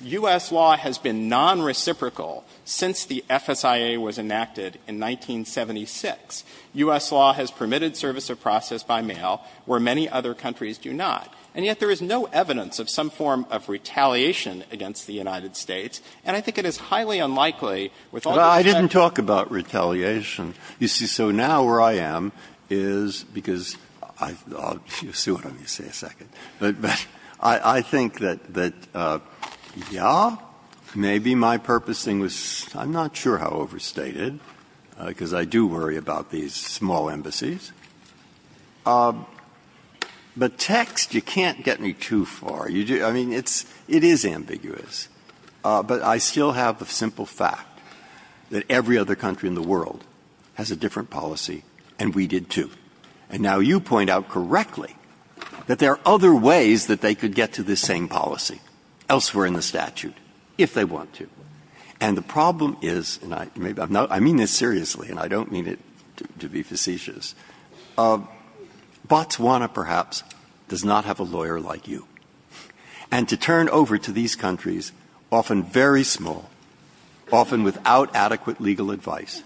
U.S. law has been nonreciprocal since the FSIA was enacted in 1976. U.S. law has permitted service of process by mail, where many other countries do not. And yet there is no evidence of some form of retaliation against the United States. And I think it is highly unlikely, with all due respect to the United States. The reason why I am is because you'll see what I'm going to say in a second. But I think that, yeah, maybe my purposing was – I'm not sure how overstated because I do worry about these small embassies. But text, you can't get me too far. I mean, it is ambiguous. But I still have the simple fact that every other country in the world has a different policy, and we did, too. And now you point out correctly that there are other ways that they could get to this same policy elsewhere in the statute, if they want to. And the problem is – and I mean this seriously, and I don't mean it to be facetious – Botswana, perhaps, does not have a lawyer like you. And to turn over to these countries, often very small, often without adequate legal advice,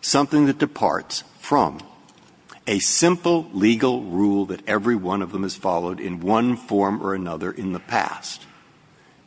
something that departs from a simple legal rule that every one of them has followed in one form or another in the past,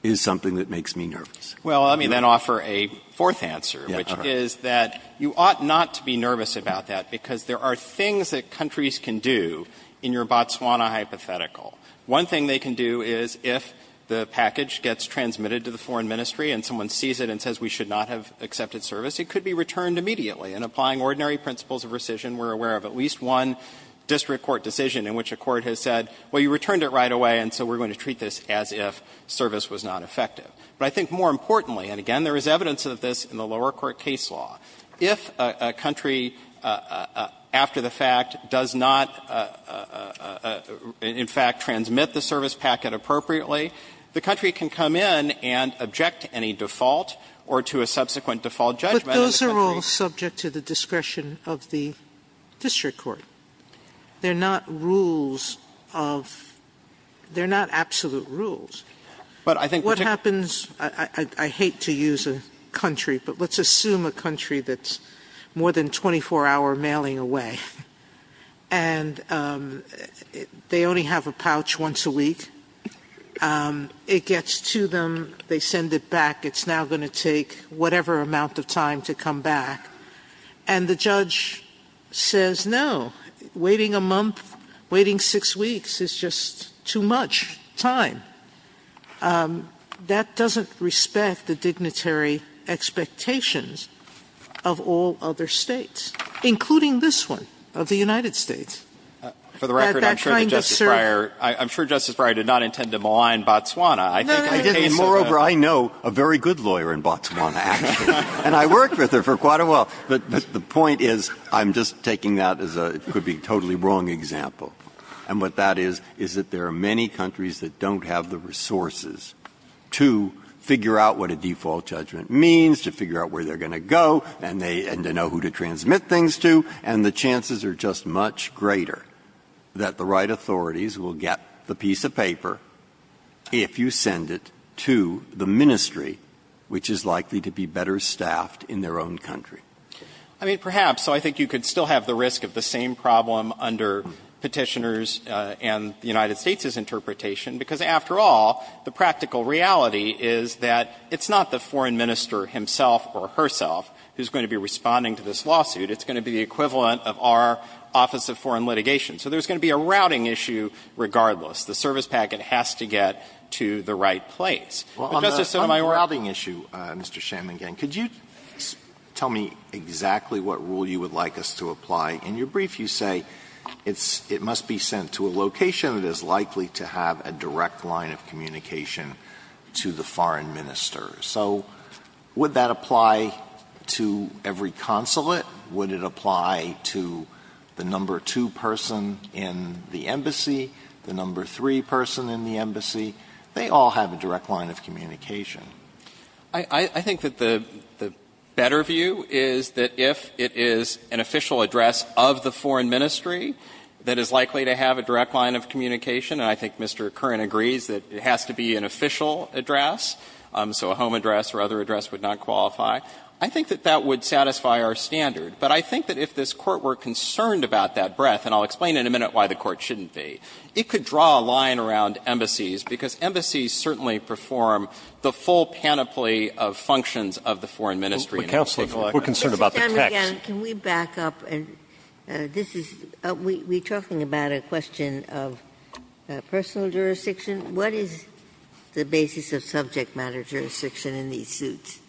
is something that makes me nervous. Well, let me then offer a fourth answer, which is that you ought not to be nervous about that, because there are things that countries can do in your Botswana hypothetical. One thing they can do is, if the package gets transmitted to the foreign ministry and someone sees it and says, we should not have accepted service, it could be returned immediately. And applying ordinary principles of rescission, we're aware of at least one district court decision in which a court has said, well, you returned it right away, and so we're going to treat this as if service was not effective. But I think more importantly – and again, there is evidence of this in the lower court case law – if a country, after the fact, does not, in fact, transmit the service packet appropriately, the country can come in and object to any default or to a subsequent default judgment. But those are all subject to the discretion of the district court. They're not rules of – they're not absolute rules. But I think – What happens – I hate to use a country, but let's assume a country that's more than 24-hour mailing away, and they only have a pouch once a week. It gets to them. They send it back. It's now going to take whatever amount of time to come back. And the judge says, no, waiting a month, waiting six weeks is just too much time. That doesn't respect the dignitary expectations of all other States, including this one, of the United States, that that kind of service – For the record, I'm sure that Justice Breyer – I'm sure Justice Breyer did not intend to malign Botswana. No, no, no. Moreover, I know a very good lawyer in Botswana, actually. And I worked with her for quite a while. But the point is, I'm just taking that as a – it could be a totally wrong example. And what that is, is that there are many countries that don't have the resources to figure out what a default judgment means, to figure out where they're going to go, and they – and to know who to transmit things to. And the chances are just much greater that the right authorities will get the piece of paper if you send it to the ministry, which is likely to be better staffed in their own country. I mean, perhaps. So I think you could still have the risk of the same problem under Petitioner's and the United States' interpretation, because after all, the practical reality is that it's not the foreign minister himself or herself who's going to be responding to this lawsuit. It's going to be the equivalent of our Office of Foreign Litigation. So there's going to be a routing issue regardless. The service packet has to get to the right place. But, Justice Sotomayor – Exactly what rule you would like us to apply. In your brief, you say it must be sent to a location that is likely to have a direct line of communication to the foreign minister. So would that apply to every consulate? Would it apply to the number two person in the embassy, the number three person in the embassy? They all have a direct line of communication. I think that the better view is that if it is an official address of the foreign ministry that is likely to have a direct line of communication, and I think Mr. Curran agrees that it has to be an official address, so a home address or other address would not qualify, I think that that would satisfy our standard. But I think that if this Court were concerned about that breadth, and I'll explain in a minute why the Court shouldn't be, it could draw a line around embassies, because embassies certainly perform the full panoply of functions of the foreign ministry. Counsel, we're concerned about the text. Mr. McAllen, can we back up? This is – we're talking about a question of personal jurisdiction. What is the basis of subject matter jurisdiction in these suits?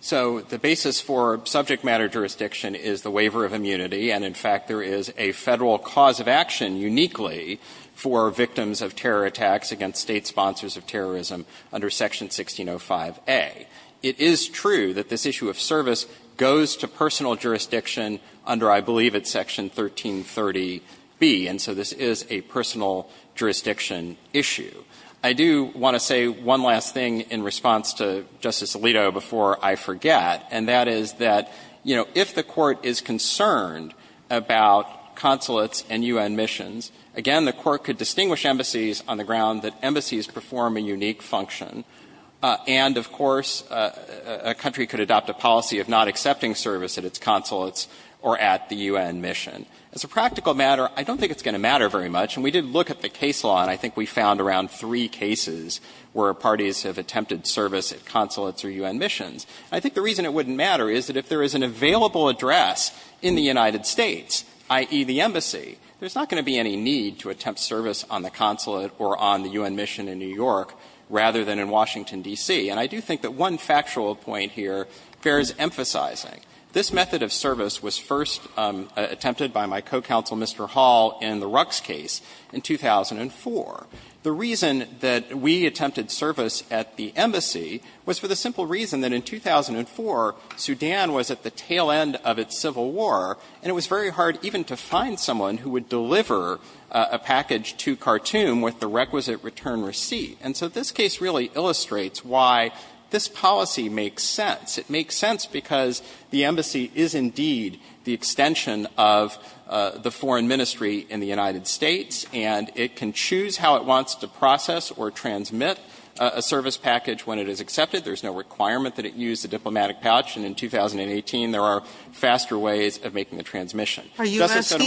So the basis for subject matter jurisdiction is the waiver of immunity, and in fact there is a Federal cause of action uniquely for victims of terror attacks against State sponsors of terrorism under Section 1605A. It is true that this issue of service goes to personal jurisdiction under, I believe, it's Section 1330B, and so this is a personal jurisdiction issue. I do want to say one last thing in response to Justice Alito before I forget, and that is that, you know, if the Court is concerned about consulates and U.N. missions, again, the Court could distinguish embassies on the ground that embassies perform a unique function, and of course a country could adopt a policy of not accepting service at its consulates or at the U.N. mission. As a practical matter, I don't think it's going to matter very much, and we did look at the case law, and I think we found around three cases where parties have attempted service at consulates or U.N. missions. I think the reason it wouldn't matter is that if there is an available address in the United States, i.e., the embassy, there's not going to be any need to attempt service on the consulate or on the U.N. mission in New York rather than in Washington D.C. And I do think that one factual point here fares emphasizing. This method of service was first attempted by my co-counsel, Mr. Hall, in the Rucks case in 2004. The reason that we attempted service at the embassy was for the simple reason that in 2004, Sudan was at the tail end of its civil war, and it was very hard even to find someone who would deliver a package to Khartoum with the requisite return receipt. And so this case really illustrates why this policy makes sense. It makes sense because the embassy is indeed the extension of the foreign ministry in the United States, and it can choose how it wants to process or transmit a service package when it is accepted. There's no requirement that it use a diplomatic pouch, and in 2018, there are faster ways of making the transmission. Sotomayor, are you asking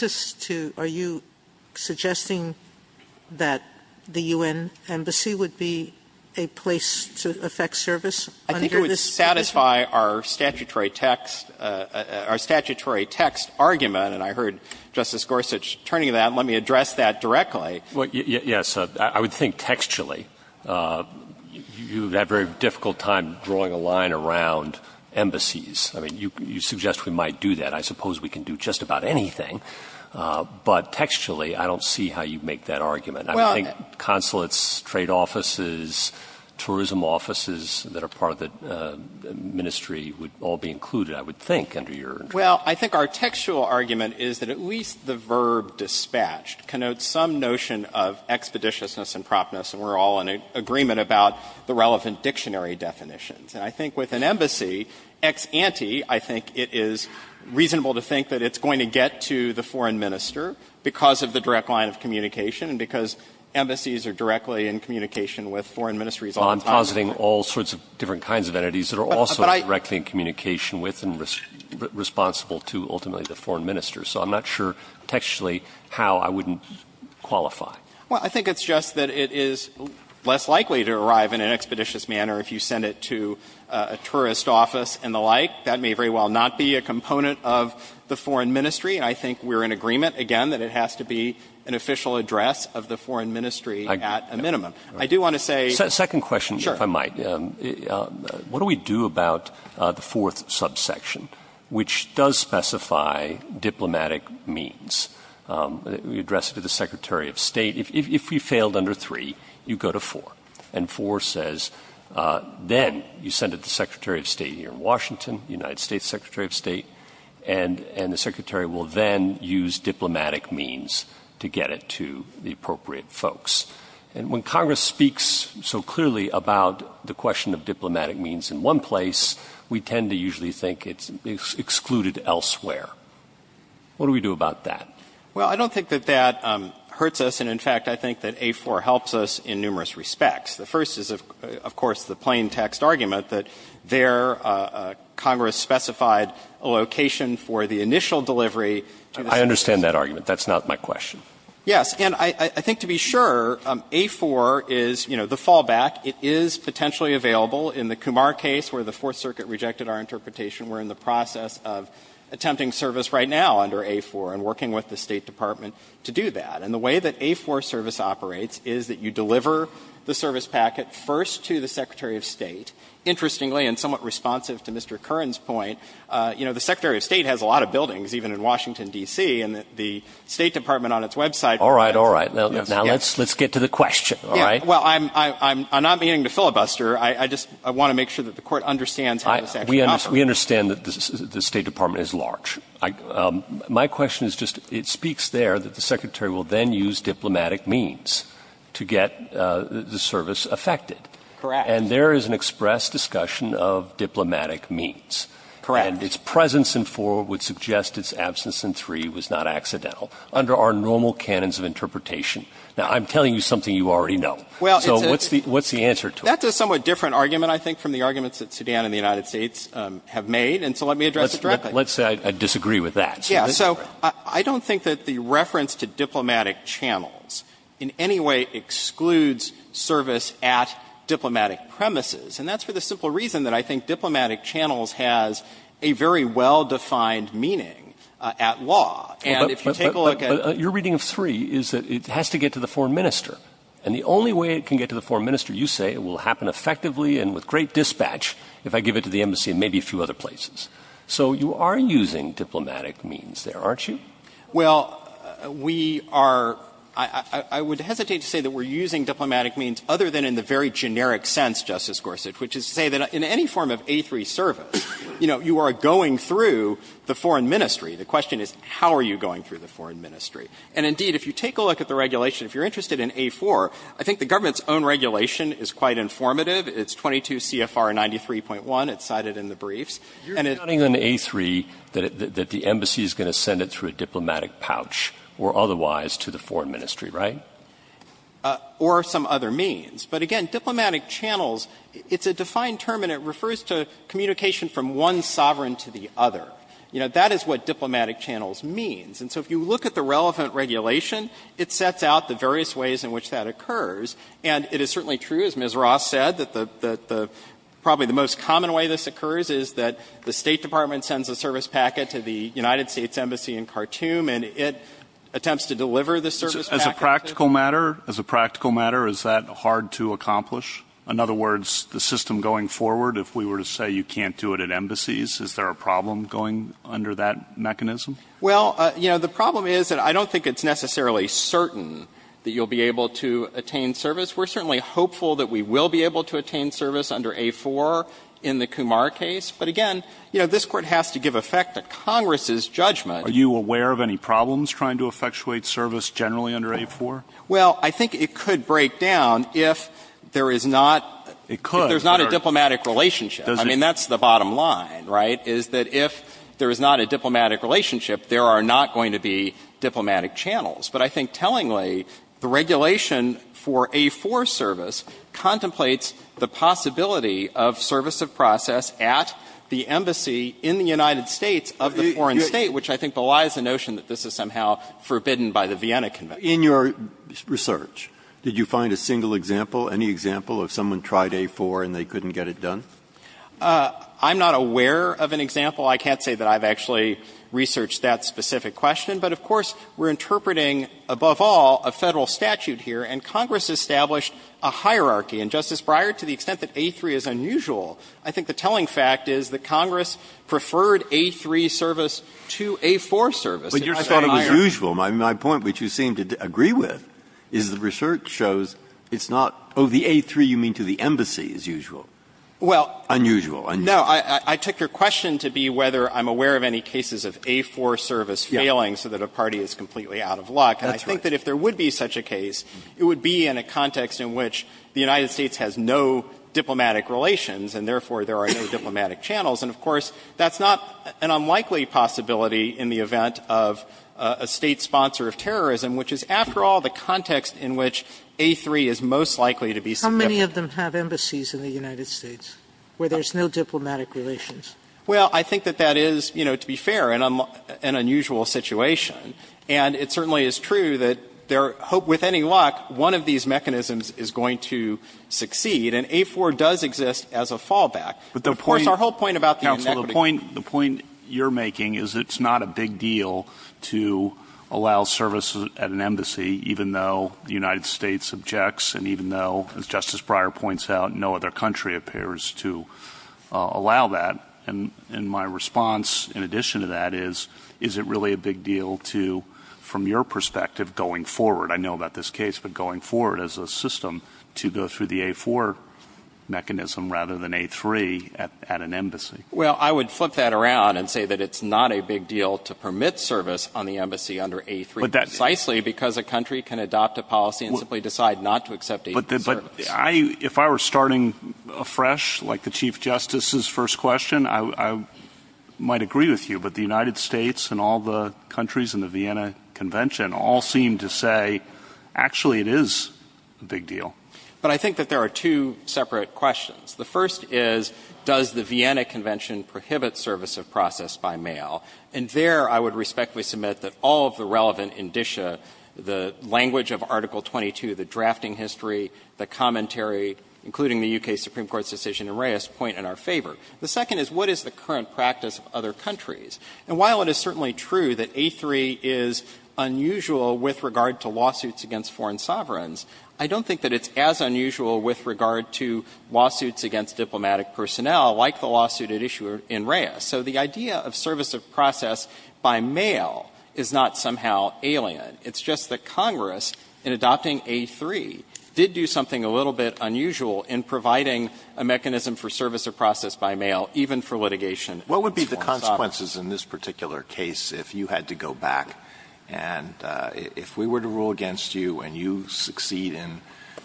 this to? Are you suggesting that the U.N. Embassy would be a place to affect service under the status quorum? I think it would satisfy our statutory text our statutory text argument, and I heard Justice Gorsuch turning to that. And let me address that directly. Yes. I would think textually, you have had a very difficult time drawing a line around embassies. I mean, you suggest we might do that. I suppose we can do just about anything. But textually, I don't see how you make that argument. I think consulates, trade offices, tourism offices that are part of the ministry would all be included, I would think, under your interpretation. Well, I think our textual argument is that at least the verb dispatched connotes some notion of expeditiousness and promptness, and we're all in agreement about the relevant dictionary definitions. And I think with an embassy ex ante, I think it is reasonable to think that it's going to get to the foreign minister because of the direct line of communication and because embassies are directly in communication with foreign ministries all the time. I'm positing all sorts of different kinds of entities that are also directly in communication with and responsible to ultimately the foreign minister. So I'm not sure textually how I wouldn't qualify. Well, I think it's just that it is less likely to arrive in an expeditious manner if you send it to a tourist office and the like. That may very well not be a component of the foreign ministry, and I think we're in agreement, again, that it has to be an official address of the foreign ministry at a minimum. Second question, if I might. Sure. What do we do about the fourth subsection, which does specify diplomatic means? We address it to the Secretary of State. If we failed under three, you go to four. And four says then you send it to the Secretary of State here in Washington, the United States Secretary of State, and the Secretary will then use diplomatic means to get it to the appropriate folks. And when Congress speaks so clearly about the question of diplomatic means in one place, we tend to usually think it's excluded elsewhere. What do we do about that? Well, I don't think that that hurts us. And, in fact, I think that A4 helps us in numerous respects. The first is, of course, the plain text argument that there Congress specified a location for the initial delivery. I understand that argument. That's not my question. Yes. And I think to be sure, A4 is, you know, the fallback. It is potentially available in the Kumar case where the Fourth Circuit rejected our interpretation. We're in the process of attempting service right now under A4 and working with the State Department to do that. And the way that A4 service operates is that you deliver the service packet first to the Secretary of State. Interestingly, and somewhat responsive to Mr. Curran's point, you know, the Secretary of State has a lot of buildings, even in Washington, D.C., and the State Department on its website. All right, all right. Now let's get to the question, all right? Well, I'm not meaning to filibuster. I just want to make sure that the Court understands how this actually operates. We understand that the State Department is large. My question is just, it speaks there that the Secretary will then use diplomatic means to get the service effected. Correct. And there is an express discussion of diplomatic means. Correct. And its presence in 4 would suggest its absence in 3 was not accidental. Under our normal canons of interpretation. Now, I'm telling you something you already know. So what's the answer to it? That's a somewhat different argument, I think, from the arguments that Sudan and the United States have made. And so let me address it directly. Let's say I disagree with that. Yes. So I don't think that the reference to diplomatic channels in any way excludes service at diplomatic premises. And that's for the simple reason that I think diplomatic channels has a very well-defined meaning at law. And if you take a look at. But your reading of 3 is that it has to get to the Foreign Minister. And the only way it can get to the Foreign Minister, you say, it will happen effectively and with great dispatch if I give it to the embassy and maybe a few other places. So you are using diplomatic means there, aren't you? Well, we are. I would hesitate to say that we're using diplomatic means other than in the very generic sense, Justice Gorsuch, which is to say that in any form of A3 service, you know, you are going through the Foreign Ministry. The question is, how are you going through the Foreign Ministry? And indeed, if you take a look at the regulation, if you're interested in A4, I think the government's own regulation is quite informative. It's 22 CFR 93.1. It's cited in the briefs. And it's. You're counting on A3 that the embassy is going to send it through a diplomatic pouch or otherwise to the Foreign Ministry, right? Or some other means. But again, diplomatic channels, it's a defined term and it refers to communication from one sovereign to the other. You know, that is what diplomatic channels means. And so if you look at the relevant regulation, it sets out the various ways in which that occurs. And it is certainly true, as Ms. Ross said, that the the probably the most common way this occurs is that the State Department sends a service packet to the United States Embassy in Khartoum and it attempts to deliver the service packet. As a practical matter, as a practical matter, is that hard to accomplish? In other words, the system going forward, if we were to say you can't do it at embassies, is there a problem going under that mechanism? Well, you know, the problem is that I don't think it's necessarily certain that you'll be able to attain service. We're certainly hopeful that we will be able to attain service under A4 in the Kumar case. But again, you know, this Court has to give effect to Congress's judgment. Are you aware of any problems trying to effectuate service generally under A4? Well, I think it could break down if there is not. It could. If there's not a diplomatic relationship. I mean, that's the bottom line, right, is that if there is not a diplomatic relationship, there are not going to be diplomatic channels. But I think tellingly, the regulation for A4 service contemplates the possibility of service of process at the embassy in the United States of the foreign State, which I think belies the notion that this is somehow forbidden by the Vienna Convention. In your research, did you find a single example, any example of someone tried A4 and they couldn't get it done? I'm not aware of an example. I can't say that I've actually researched that specific question. But of course, we're interpreting, above all, a Federal statute here. And Congress established a hierarchy. And, Justice Breyer, to the extent that A3 is unusual, I think the telling fact is that Congress preferred A3 service to A4 service. Breyer, I thought it was usual. My point, which you seem to agree with, is the research shows it's not, oh, the A3 you mean to the embassy is usual. Well. Unusual, unusual. No. I took your question to be whether I'm aware of any cases of A4 service failing so that a party is completely out of luck. That's right. And I think that if there would be such a case, it would be in a context in which the United States has no diplomatic relations and, therefore, there are no diplomatic channels. And, of course, that's not an unlikely possibility in the event of a State sponsor of terrorism, which is, after all, the context in which A3 is most likely to be subjected How many of them have embassies in the United States where there's no diplomatic relations? Well, I think that that is, you know, to be fair, an unusual situation. And it certainly is true that with any luck, one of these mechanisms is going to succeed. And A4 does exist as a fallback. Of course, our whole point about the inequity. Counsel, the point you're making is it's not a big deal to allow service at an embassy even though the United States objects and even though, as Justice Breyer points out, no other country appears to allow that. And my response, in addition to that, is, is it really a big deal to, from your perspective, going forward, I know about this case, but going forward as a system to go through the A4 mechanism rather than A3 at an embassy? Well, I would flip that around and say that it's not a big deal to permit service on the embassy under A3. Precisely because a country can adopt a policy and simply decide not to accept A3 service. But if I were starting afresh, like the Chief Justice's first question, I might agree with you, but the United States and all the countries in the Vienna Convention all seem to say, actually, it is a big deal. But I think that there are two separate questions. The first is, does the Vienna Convention prohibit service of process by mail? And there I would respectfully submit that all of the relevant indicia, the language of Article 22, the drafting history, the commentary, including the U.K. Supreme Court's decision in Reyes, point in our favor. The second is, what is the current practice of other countries? And while it is certainly true that A3 is unusual with regard to lawsuits against foreign sovereigns, I don't think that it's as unusual with regard to lawsuits against diplomatic personnel like the lawsuit at issue in Reyes. So the idea of service of process by mail is not somehow alien. It's just that Congress, in adopting A3, did do something a little bit unusual in providing a mechanism for service of process by mail, even for litigation against foreign sovereigns. Alito, what would be the consequences in this particular case if you had to go back and if we were to rule against you and you succeed in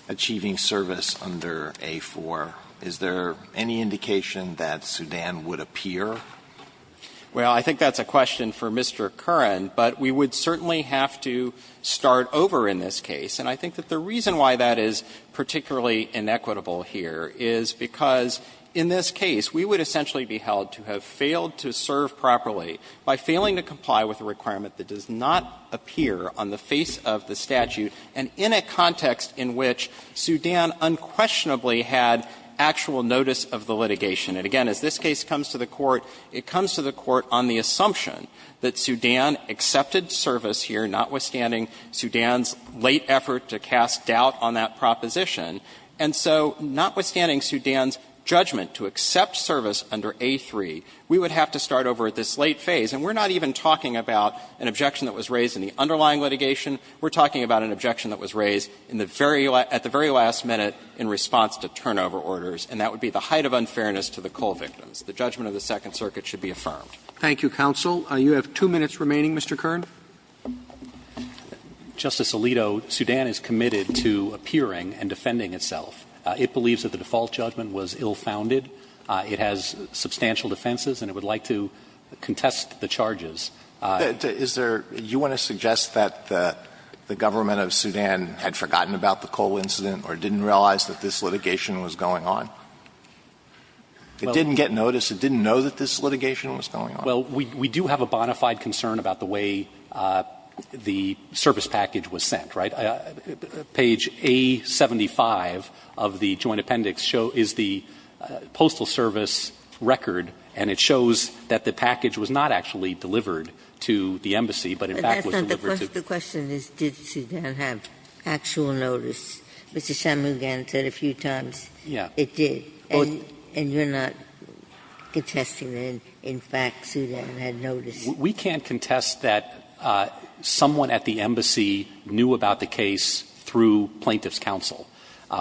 achieving service under A4, is there any indication that Sudan would appear? Well, I think that's a question for Mr. Curran, but we would certainly have to start over in this case. And I think that the reason why that is particularly inequitable here is because in this case, we would essentially be held to have failed to serve properly by failing to comply with a requirement that does not appear on the face of the statute and in a context in which Sudan unquestionably had actual notice of the litigation. And, again, as this case comes to the Court, it comes to the Court on the assumption that Sudan accepted service here, notwithstanding Sudan's late effort to cast doubt on that proposition. And so notwithstanding Sudan's judgment to accept service under A3, we would have to start over at this late phase. And we're not even talking about an objection that was raised in the underlying litigation. We're talking about an objection that was raised in the very last at the very last minute in response to turnover orders, and that would be the height of unfairness to the coal victims. The judgment of the Second Circuit should be affirmed. Thank you, counsel. You have two minutes remaining, Mr. Curran. Justice Alito, Sudan is committed to appearing and defending itself. It believes that the default judgment was ill-founded. It has substantial defenses, and it would like to contest the charges. Is there you want to suggest that the government of Sudan had forgotten about the coal incident or didn't realize that this litigation was going on? It didn't get notice? It didn't know that this litigation was going on? Well, we do have a bona fide concern about the way the service package was sent, right? Page A75 of the Joint Appendix is the Postal Service record, and it shows that the embassy, but in fact was delivered to the embassy. But that's not the question. The question is did Sudan have actual notice. Mr. Shammugam said a few times it did. And you're not contesting that in fact Sudan had notice? We can't contest that someone at the embassy knew about the case through plaintiff's counsel.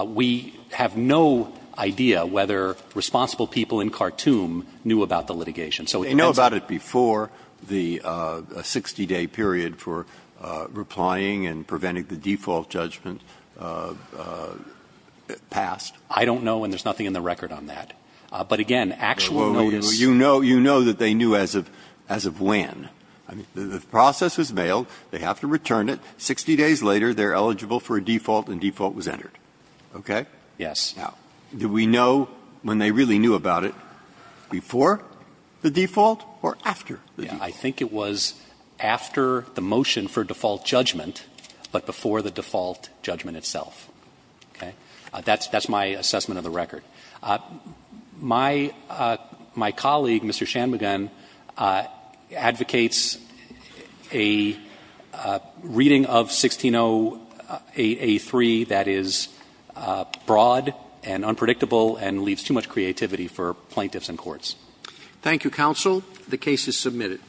We have no idea whether responsible people in Khartoum knew about the litigation. Do they know about it before the 60-day period for replying and preventing the default judgment passed? I don't know, and there's nothing in the record on that. But again, actual notice. Well, you know that they knew as of when. The process was mailed. They have to return it. Sixty days later, they're eligible for a default, and default was entered. Okay? Yes. Now, do we know when they really knew about it? Before the default or after the default? I think it was after the motion for default judgment, but before the default judgment itself. Okay? That's my assessment of the record. My colleague, Mr. Shanmugam, advocates a reading of 1608A3 that is broad and unpredictable and leaves too much creativity for plaintiffs and courts. Thank you, counsel. The case is submitted.